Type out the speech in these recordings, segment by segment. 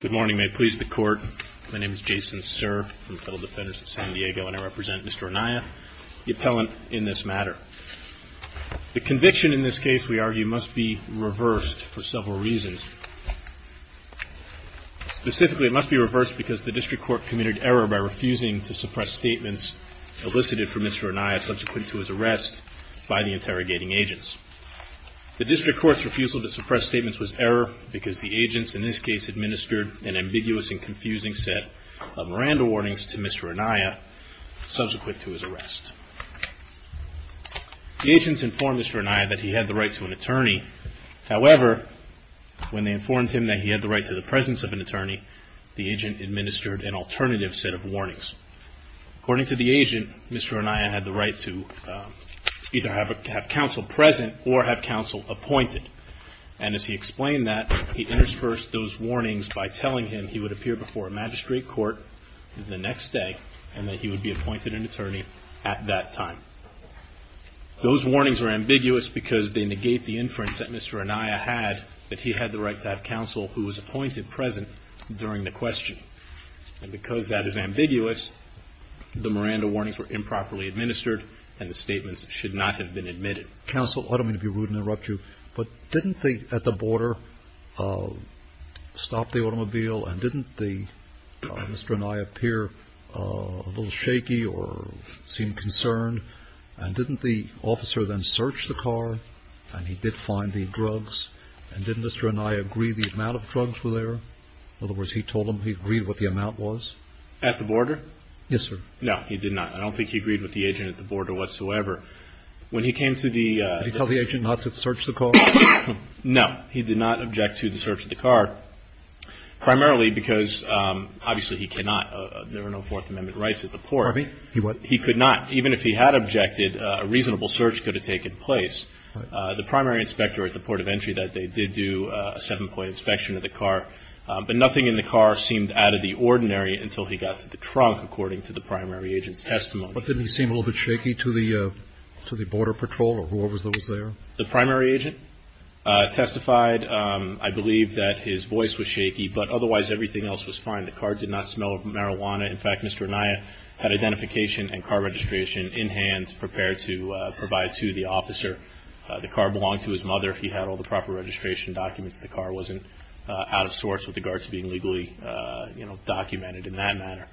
Good morning. May it please the Court. My name is Jason Sirr. I'm a fellow Defender of San Diego, and I represent Mr. Anaya, the Appellant in this matter. The conviction in this case, we argue, must be reversed for several reasons. Specifically, it must be reversed because the District Court committed error by refusing to suppress statements elicited from Mr. Anaya subsequent to his arrest by the interrogating agents. The District Court's refusal to suppress statements elicited by the agents administered an ambiguous and confusing set of Miranda warnings to Mr. Anaya subsequent to his arrest. The agents informed Mr. Anaya that he had the right to an attorney. However, when they informed him that he had the right to the presence of an attorney, the agent administered an alternative set of warnings. According to the agent, Mr. Anaya had the right to either have counsel present or have counsel present during the questioning. Mr. Anaya refused by telling him he would appear before a magistrate court the next day and that he would be appointed an attorney at that time. Those warnings were ambiguous because they negate the inference that Mr. Anaya had that he had the right to have counsel who was appointed present during the questioning. And because that is ambiguous, the Miranda warnings were improperly administered and the Mr. Anaya appeared a little shaky or seemed concerned, and didn't the officer then search the car and he did find the drugs, and didn't Mr. Anaya agree the amount of drugs were there? In other words, he told him he agreed what the amount was? At the border? Yes, sir. No, he did not. I don't think he agreed with the agent at the border whatsoever. When he came to the… Did he tell the agent not to search the car? No, he did not object to the search of the car. So, he did not object to the search of the car, primarily because, obviously, he cannot. There are no Fourth Amendment rights at the port. He could not. Even if he had objected, a reasonable search could have taken place. The primary inspector at the port of entry that day did do a seven-point inspection of the car, but nothing in the car seemed out of the ordinary until he got to the trunk, according to the primary agent's testimony. But didn't he seem a little bit shaky to the border patrol or his voice was shaky, but otherwise everything else was fine. The car did not smell of marijuana. In fact, Mr. Anaya had identification and car registration in hand, prepared to provide to the officer. The car belonged to his mother. He had all the proper registration documents. The car wasn't out of sorts with regards to being legally, you know, documented in that manner.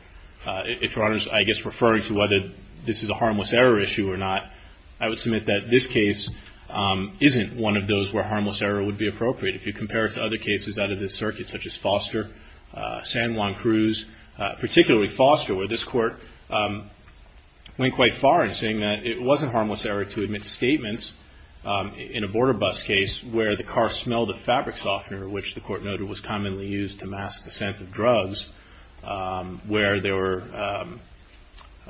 If Your Honor is, I guess, referring to whether this is a harmless error issue or not, I would submit that this case isn't one of those where harmless error would be appropriate. If you compare it to other cases out of this circuit, such as Foster, San Juan Cruz, particularly Foster, where this court went quite far in saying that it wasn't harmless error to admit statements in a border bus case where the car smelled of fabric softener, which the court noted was commonly used to mask the scent of drugs, where there were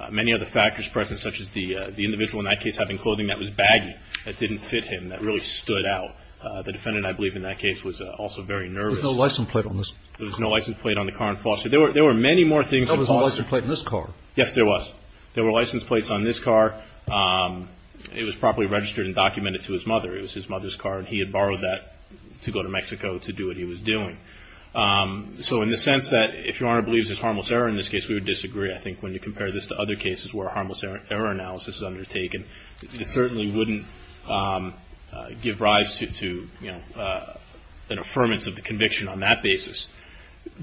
many other factors present, such as the individual in that case having clothing that was baggy, that didn't fit him, that really stood out. The defendant, I believe, in that case was also very nervous. There was no license plate on this. There was no license plate on the car in Foster. There were many more things in Foster. There was no license plate in this car. Yes, there was. There were license plates on this car. It was properly registered and documented to his mother. It was his mother's car and he had I think when you compare this to other cases where harmless error analysis is undertaken, it certainly wouldn't give rise to, you know, an affirmance of the conviction on that basis.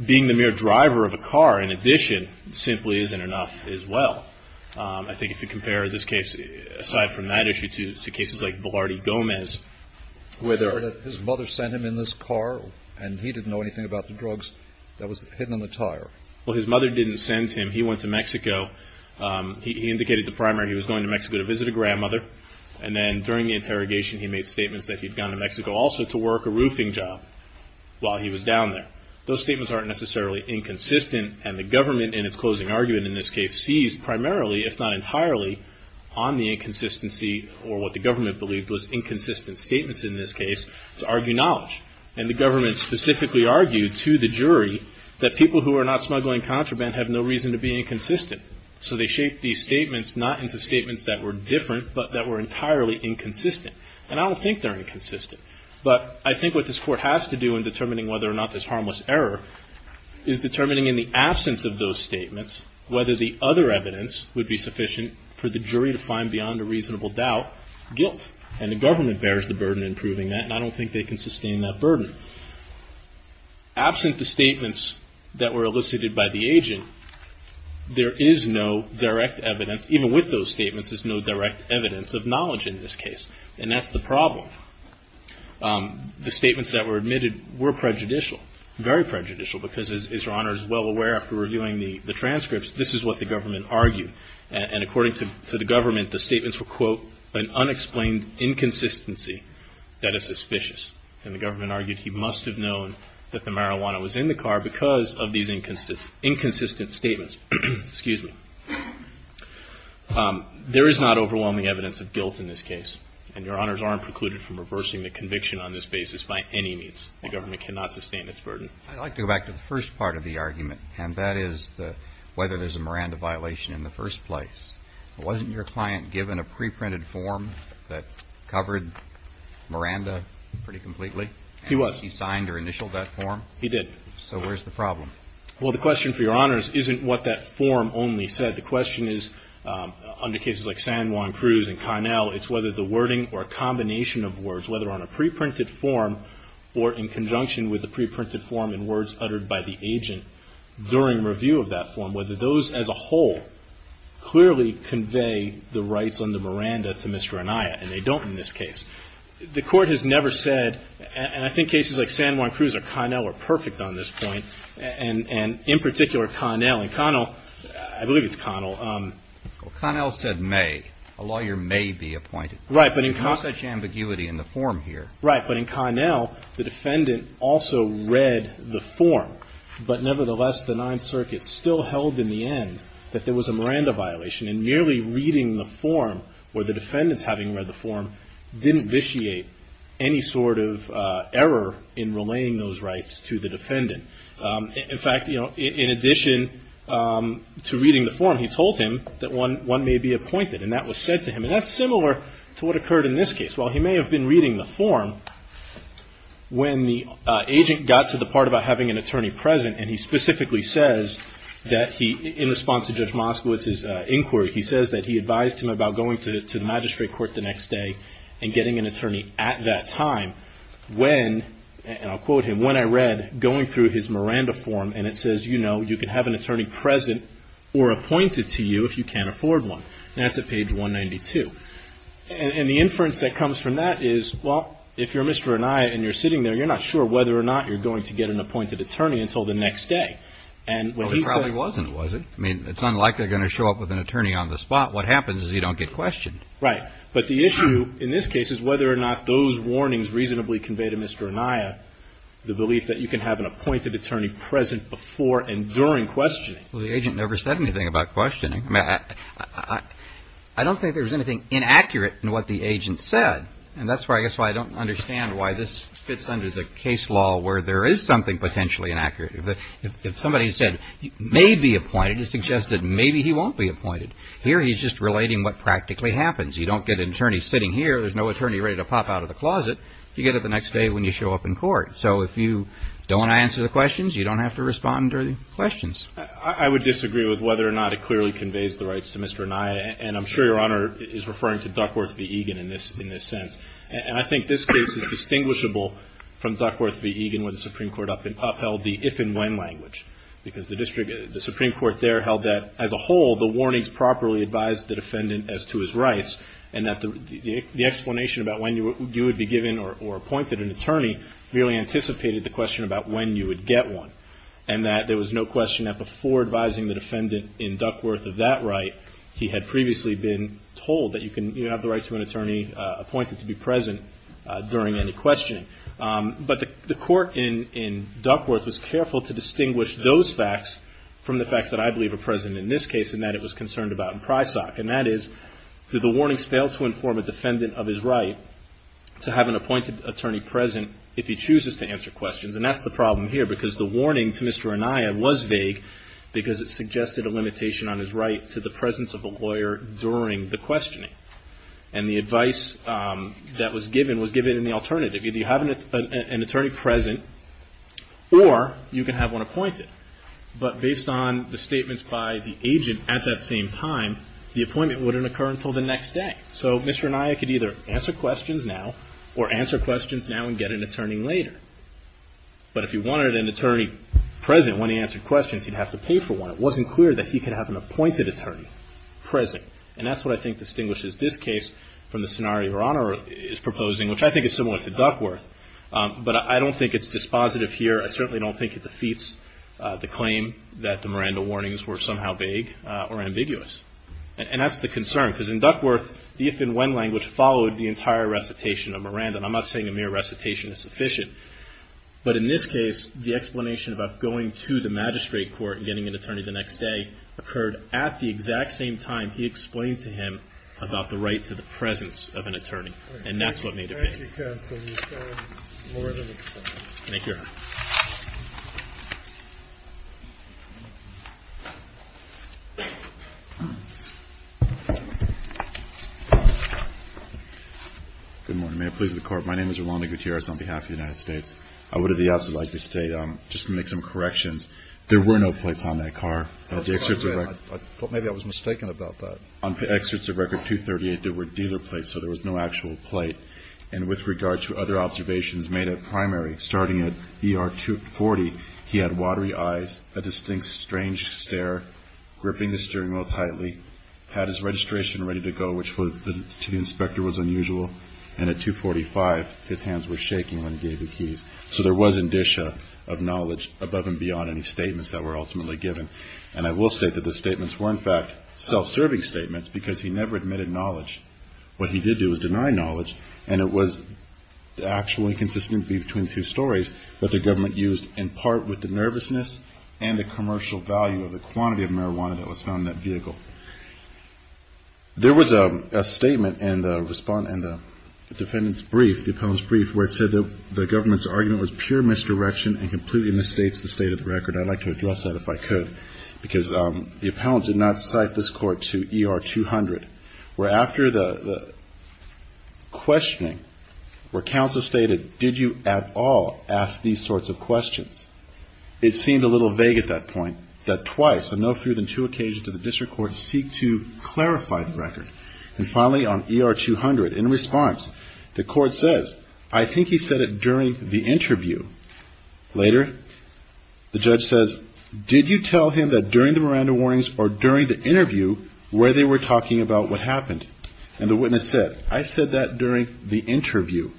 Being the mere driver of a car, in addition, simply isn't enough as well. I think if you compare this case, aside from that issue, to cases like Velarde Gomez, where their His mother sent him in this car and he didn't know anything about the drugs that was hidden in the tire. Well, his mother didn't send him. He went to Mexico. He indicated the primary. He was going to Mexico to visit a grandmother. And then during the interrogation, he made statements that he'd gone to Mexico also to work a roofing job while he was down there. Those statements aren't necessarily inconsistent. And the government, in its closing argument in this case, sees primarily, if not entirely, on the inconsistency or what the government believed was inconsistent statements in this case to argue knowledge. And the government specifically argued to the jury that people who are not smuggling contraband have no reason to be inconsistent. So they shaped these statements not into statements that were different, but that were entirely inconsistent. And I don't think they're inconsistent. But I think what this Court has to do in determining whether or not there's harmless error is determining in the absence of those statements whether the other evidence would be sufficient for the jury to find beyond a reasonable doubt guilt. And the government bears the burden in proving that. And I don't think they can sustain that burden. Absent the statements that were elicited by the agent, there is no direct evidence, even with those statements, there's no direct evidence of knowledge in this case. And that's the problem. The statements that were admitted were prejudicial, very prejudicial, because, as Your Honor is well aware after reviewing the transcripts, this is what the government argued. And according to the government, the statements were, quote, an unexplained inconsistency that is suspicious. And the government argued he must have known that the marijuana was in the car because of these inconsistent statements. Excuse me. There is not overwhelming evidence of guilt in this case. And Your Honors aren't precluded from reversing the conviction on this basis by any means. The government cannot sustain its burden. I'd like to go back to the first part of the argument, and that is whether there's a Miranda violation in the first place. Wasn't your client given a preprinted form that covered Miranda pretty completely? He was. And he signed or initialed that form? He did. So where's the problem? Well, the question for Your Honors isn't what that form only said. The question is, under cases like San Juan Cruz and Connell, it's whether the wording or combination of words, whether on a preprinted form or in conjunction with the preprinted form and words uttered by the agent during review of that form, whether those as a whole clearly convey the rights under Miranda to Mr. Anaya. And they don't in this case. The Court has never said, and I think cases like San Juan Cruz or Connell are perfect on this point, and in particular Connell. And Connell, I believe it's Connell. Well, Connell said may. A lawyer may be appointed. There's not such ambiguity in the form here. Right. But in Connell, the defendant also read the form. But nevertheless, the Ninth Circuit still held in the end that there was a Miranda violation. And merely reading the form or the defendants having read the form didn't vitiate any sort of error in relaying those rights to the defendant. In fact, you know, in addition to reading the form, he told him that one may be appointed. And that was said to him. And that's similar to what occurred in this case. While he may have been reading the form, when the agent got to the part about having an attorney present and he specifically says that he, in response to Judge Moskowitz's inquiry, he says that he advised him about going to the magistrate court the next day and getting an attorney at that time, when, and I'll quote him, when I read going through his Miranda form and it says, you know, you can have an attorney present or appointed to you if you can't afford one. And that's at page 192. And the inference that comes from that is, well, if you're Mr. Anaya and you're sitting there, you're not sure whether or not you're going to get an appointed attorney until the next day. And when he says… Well, it probably wasn't, was it? I mean, it's unlikely they're going to show up with an attorney on the spot. What happens is you don't get questioned. Right. But the issue in this case is whether or not those warnings reasonably convey to Mr. Anaya the belief that you can have an appointed attorney present before and during questioning. Well, the agent never said anything about questioning. I don't think there was anything inaccurate in what the agent said. And that's why, I guess, why I don't understand why this fits under the case law where there is something potentially inaccurate. If somebody said he may be appointed, it suggests that maybe he won't be appointed. Here he's just relating what practically happens. You don't get an attorney sitting here. There's no attorney ready to pop out of the closet. You get it the next day when you show up in court. So if you don't answer the questions, you don't have to respond to any questions. I would disagree with whether or not it clearly conveys the rights to Mr. Anaya. And I'm sure Your Honor is referring to Duckworth v. Egan in this sense. And I think this case is distinguishable from Duckworth v. Egan when the Supreme Court upheld the if and when language. Because the Supreme Court there held that, as a whole, the warnings properly advised the defendant as to his rights. And that the explanation about when you would be given or appointed an attorney really anticipated the question about when you would get one. And that there was no question that before advising the defendant in Duckworth of that right, he had previously been told that you have the right to an attorney appointed to be present during any questioning. But the court in Duckworth was careful to distinguish those facts from the facts that I believe are present in this case and that it was concerned about in Prysock. And that is, did the warnings fail to inform a defendant of his right to have an appointed attorney present if he chooses to answer questions? And that's the problem here because the warning to Mr. Anaya was vague because it suggested a limitation on his right to the presence of a lawyer during the questioning. And the advice that was given was given in the alternative. Either you have an attorney present or you can have one appointed. But based on the statements by the agent at that same time, the appointment wouldn't occur until the next day. So Mr. Anaya could either answer questions now or answer questions now and get an attorney later. But if he wanted an attorney present when he answered questions, he'd have to pay for one. It wasn't clear that he could have an appointed attorney present. And that's what I think distinguishes this case from the scenario Your Honor is proposing, which I think is similar to Duckworth. But I don't think it's dispositive here. I certainly don't think it defeats the claim that the Miranda warnings were somehow vague or ambiguous. And that's the concern because in Duckworth, the if and when language followed the entire recitation of Miranda. I'm not saying a mere recitation is sufficient. But in this case, the explanation about going to the magistrate court and getting an attorney the next day occurred at the exact same time he explained to him about the right to the presence of an attorney. And that's what made it vague. Thank you, counsel. You've said more than enough. Thank you, Your Honor. Good morning. May it please the Court. My name is Rolando Gutierrez on behalf of the United States. I would at the outset like to state, just to make some corrections, there were no plates on that car. I thought maybe I was mistaken about that. On the excerpts of Record 238, there were dealer plates, so there was no actual plate. And with regard to other observations made at primary, starting at ER 240, he had watery eyes, a distinct strange stare, gripping the steering wheel tightly, had his registration ready to go, which to the inspector was unusual. And at 245, his hands were shaking when he gave the keys. So there was indicia of knowledge above and beyond any statements that were ultimately given. And I will state that the statements were, in fact, self-serving statements because he never admitted knowledge. What he did do was deny knowledge, and it was actually consistent between two stories that the government used in part with the nervousness and the commercial value of the quantity of marijuana that was found in that vehicle. There was a statement in the defendant's brief, the appellant's brief, where it said that the government's argument was pure misdirection and completely misstates the state of the record. I'd like to address that if I could because the appellant did not cite this court to ER 200, where after the questioning, where counsel stated, did you at all ask these sorts of questions? It seemed a little vague at that point that twice, on no fewer than two occasions did the district court seek to clarify the record. And finally, on ER 200, in response, the court says, I think he said it during the interview. Later, the judge says, did you tell him that during the Miranda warnings or during the interview where they were talking about what happened? And the witness said, I said that during the interview.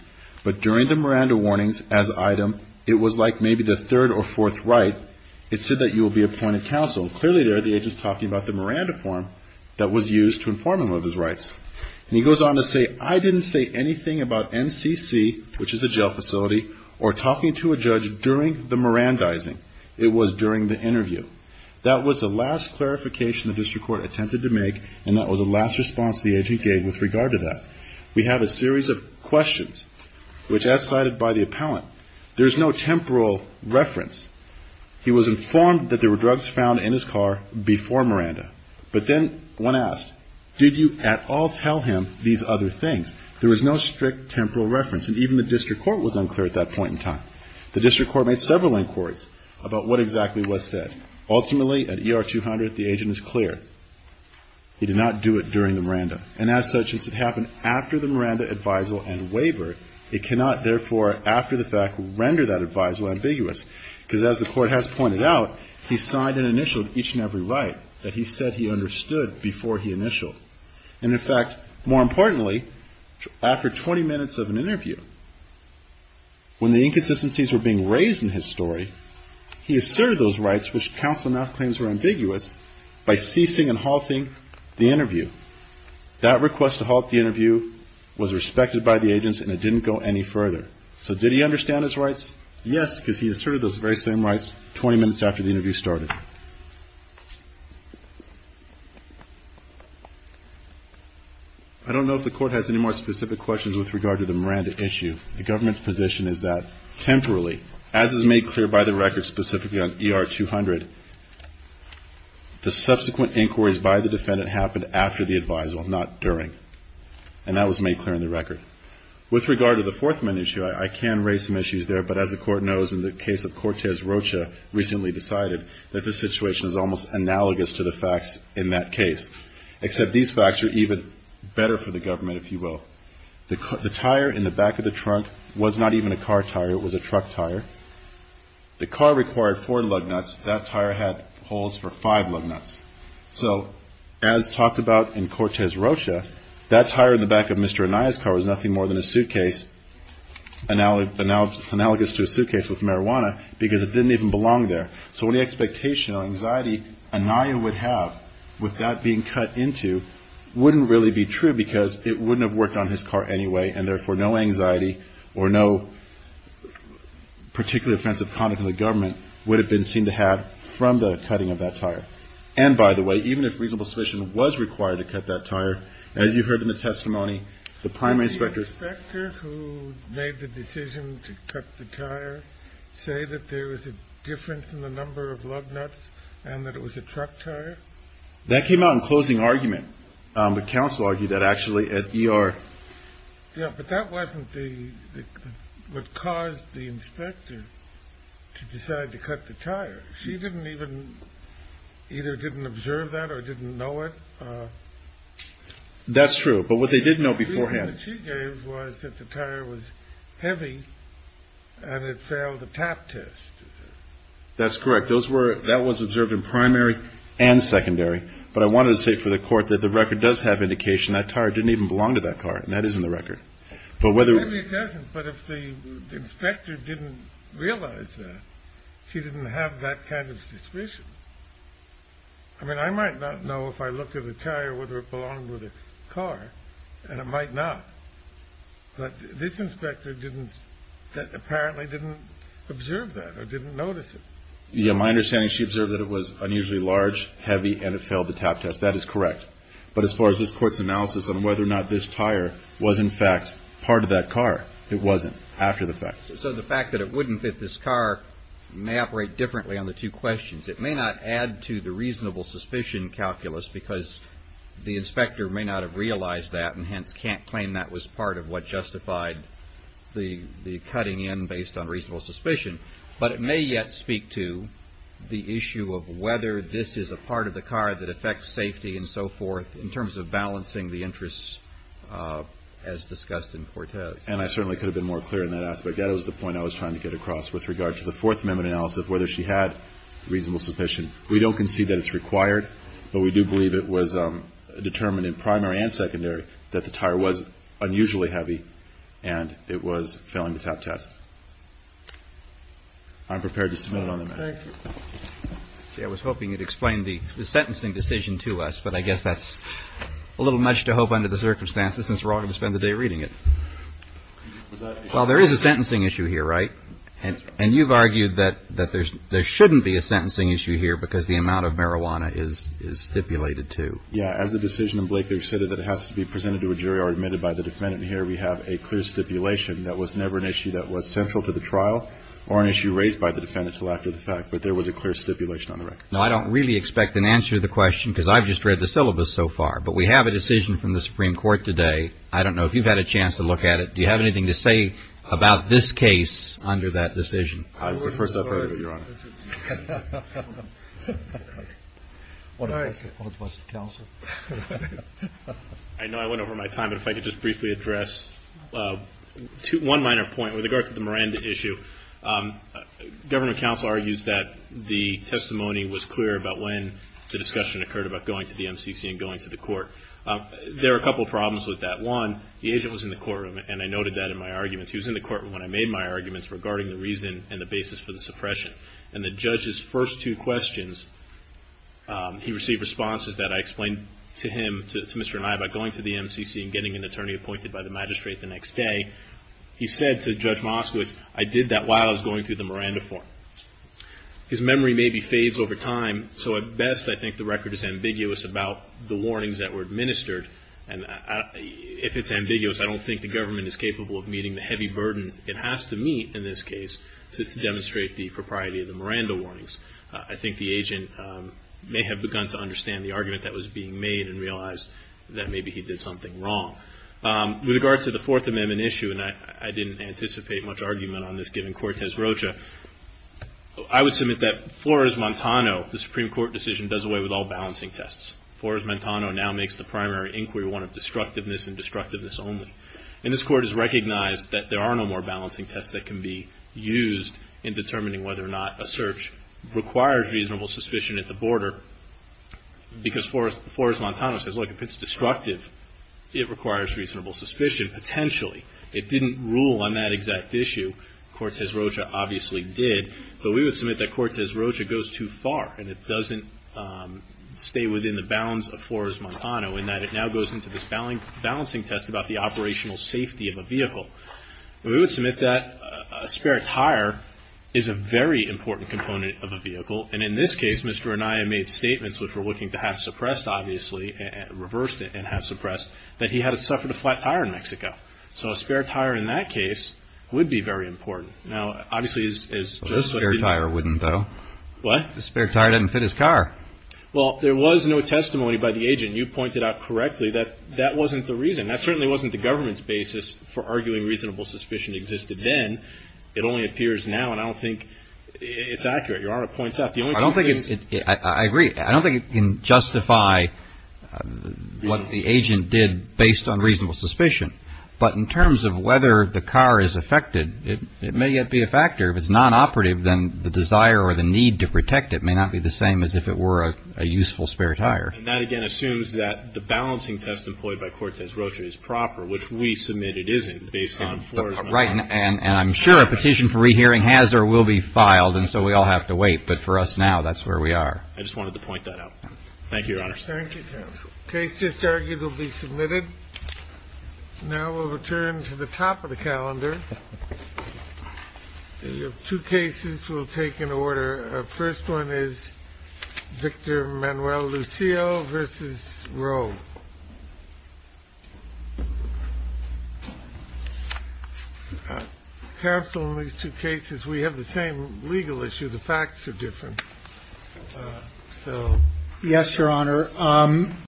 But during the Miranda warnings as item, it was like maybe the third or fourth right. It said that you will be appointed counsel. Clearly there, the agent's talking about the Miranda form that was used to inform him of his rights. And he goes on to say, I didn't say anything about MCC, which is the jail facility, or talking to a judge during the Mirandizing. It was during the interview. That was the last clarification the district court attempted to make, and that was the last response the agent gave with regard to that. We have a series of questions, which as cited by the appellant, there's no temporal reference. He was informed that there were drugs found in his car before Miranda. But then one asked, did you at all tell him these other things? There was no strict temporal reference, and even the district court was unclear at that point in time. The district court made several inquiries about what exactly was said. Ultimately, at ER 200, the agent is clear. He did not do it during the Miranda. And as such, since it happened after the Miranda advisal and waiver, it cannot therefore, after the fact, render that advisal ambiguous, because as the court has pointed out, he signed and initialed each and every right that he said he understood before he initialed. And in fact, more importantly, after 20 minutes of an interview, when the inconsistencies were being raised in his story, he asserted those rights, which counsel now claims were ambiguous, by ceasing and halting the interview. That request to halt the interview was respected by the agents, and it didn't go any further. So did he understand his rights? Yes, because he asserted those very same rights 20 minutes after the interview started. I don't know if the court has any more specific questions with regard to the fourth minute issue. The government's position is that, temporarily, as is made clear by the record specifically on ER 200, the subsequent inquiries by the defendant happened after the advisal, not during. And that was made clear in the record. With regard to the fourth minute issue, I can raise some issues there, but as the court knows, in the case of Cortez Rocha, recently decided that this situation is almost analogous to the facts in that case, except these facts are even better for the government, if you will. The tire in the back of the trunk was not even a car tire. It was a truck tire. The car required four lug nuts. That tire had holes for five lug nuts. So, as talked about in Cortez Rocha, that tire in the back of Mr. Anaya's car was nothing more than a suitcase, analogous to a suitcase with marijuana, because it didn't even belong there. So any expectation or anxiety Anaya would have with that being cut into wouldn't really be true, because it wouldn't have worked on him. It wouldn't have worked on his car anyway, and therefore no anxiety or no particularly offensive conduct in the government would have been seen to have from the cutting of that tire. And, by the way, even if reasonable suspicion was required to cut that tire, as you heard in the testimony, the primary inspector. Did the inspector who made the decision to cut the tire say that there was a difference in the number of lug nuts and that it was a truck tire? That came out in closing argument. But counsel argued that actually at ER. Yeah, but that wasn't what caused the inspector to decide to cut the tire. She didn't even either didn't observe that or didn't know it. That's true. But what they did know beforehand. The reason that she gave was that the tire was heavy and it failed the tap test. That's correct. That was observed in primary and secondary. But I wanted to say for the court that the record does have indication that tire didn't even belong to that car. And that is in the record. But whether it doesn't. But if the inspector didn't realize that she didn't have that kind of suspicion. I mean, I might not know if I looked at a tire, whether it belonged with a car, and it might not. But this inspector didn't that apparently didn't observe that or didn't notice it. My understanding, she observed that it was unusually large, heavy, and it failed the tap test. That is correct. But as far as this court's analysis on whether or not this tire was, in fact, part of that car, it wasn't after the fact. So the fact that it wouldn't fit this car may operate differently on the two questions. It may not add to the reasonable suspicion calculus because the inspector may not have realized that and hence can't claim that was part of what justified the cutting in based on reasonable suspicion. But it may yet speak to the issue of whether this is a part of the car that affects safety and so forth in terms of balancing the interests as discussed in Cortez. And I certainly could have been more clear in that aspect. That was the point I was trying to get across with regard to the Fourth Amendment analysis, whether she had reasonable suspicion. We don't concede that it's required, but we do believe it was determined in primary and secondary that the tire was unusually heavy and it was failing the tap test. I'm prepared to submit it on the matter. Thank you. I was hoping you'd explain the sentencing decision to us, but I guess that's a little much to hope under the circumstances since we're all going to spend the day reading it. Well, there is a sentencing issue here, right? And you've argued that there shouldn't be a sentencing issue here because the amount of marijuana is stipulated to. Yeah. As a decision, Blake, they've said that it has to be presented to a jury or admitted by the defendant here. We have a clear stipulation. That was never an issue that was central to the trial or an issue raised by the defendant to lack of the fact, but there was a clear stipulation on the record. No, I don't really expect an answer to the question because I've just read the syllabus so far, but we have a decision from the Supreme Court today. I don't know if you've had a chance to look at it. Do you have anything to say about this case under that decision? I was the first up. I know I went over my time, but if I could just briefly address one minor point with regard to the Miranda issue. Government counsel argues that the testimony was clear about when the discussion occurred about going to the MCC and going to the court. There are a couple problems with that. One, the agent was in the courtroom, and I noted that in my arguments. He was in the courtroom when I made my arguments regarding the reason and the basis for the suppression. And the judge's first two questions, he received responses that I explained to him, to Mr. Anai about going to the MCC and getting an attorney appointed by the magistrate the next day. He said to Judge Moskowitz, I did that while I was going through the Miranda form. His memory maybe fades over time, so at best I think the record is ambiguous about the warnings that were administered. And if it's ambiguous, I don't think the government is capable of meeting the heavy burden it has to meet in this case to demonstrate the propriety of the Miranda warnings. I think the agent may have begun to understand the argument that was being made and realized that maybe he did something wrong. With regard to the Fourth Amendment issue, and I didn't anticipate much argument on this given Cortez Rocha, I would submit that Flores-Montano, the Supreme Court decision, does away with all balancing tests. Flores-Montano now makes the primary inquiry one of destructiveness and destructiveness only. And this Court has recognized that there are no more balancing tests that can be used in determining whether or not a search requires reasonable suspicion at the border. Because Flores-Montano says, look, if it's destructive, it requires reasonable suspicion potentially. It didn't rule on that exact issue. Cortez Rocha obviously did. But we would submit that Cortez Rocha goes too far and it doesn't stay within the bounds of Flores-Montano in that it now goes into this balancing test about the operational safety of a vehicle. We would submit that a spare tire is a very important component of a vehicle. And in this case, Mr. Anaya made statements which we're looking to have suppressed, obviously, reversed it and have suppressed, that he had suffered a flat tire in Mexico. So a spare tire in that case would be very important. Now, obviously, as Joe said, A spare tire wouldn't, though. What? A spare tire doesn't fit his car. Well, there was no testimony by the agent. You pointed out correctly that that wasn't the reason. That certainly wasn't the government's basis for arguing reasonable suspicion existed then. It only appears now. And I don't think it's accurate. Your Honor, it points out. I agree. I don't think it can justify what the agent did based on reasonable suspicion. But in terms of whether the car is affected, it may yet be a factor. If it's nonoperative, then the desire or the need to protect it may not be the same as if it were a useful spare tire. And that, again, assumes that the balancing test employed by Cortez Rocha is proper, which we submit it isn't based on Flores-Montano. Right. And I'm sure a petition for rehearing has or will be filed, and so we all have to wait. But for us now, that's where we are. I just wanted to point that out. Thank you, Your Honor. Thank you, Counsel. The case just argued will be submitted. Now we'll return to the top of the calendar. We have two cases. We'll take an order. First one is Victor Manuel Lucille v. Roe. Counsel, in these two cases, we have the same legal issue. The facts are different. Yes, Your Honor.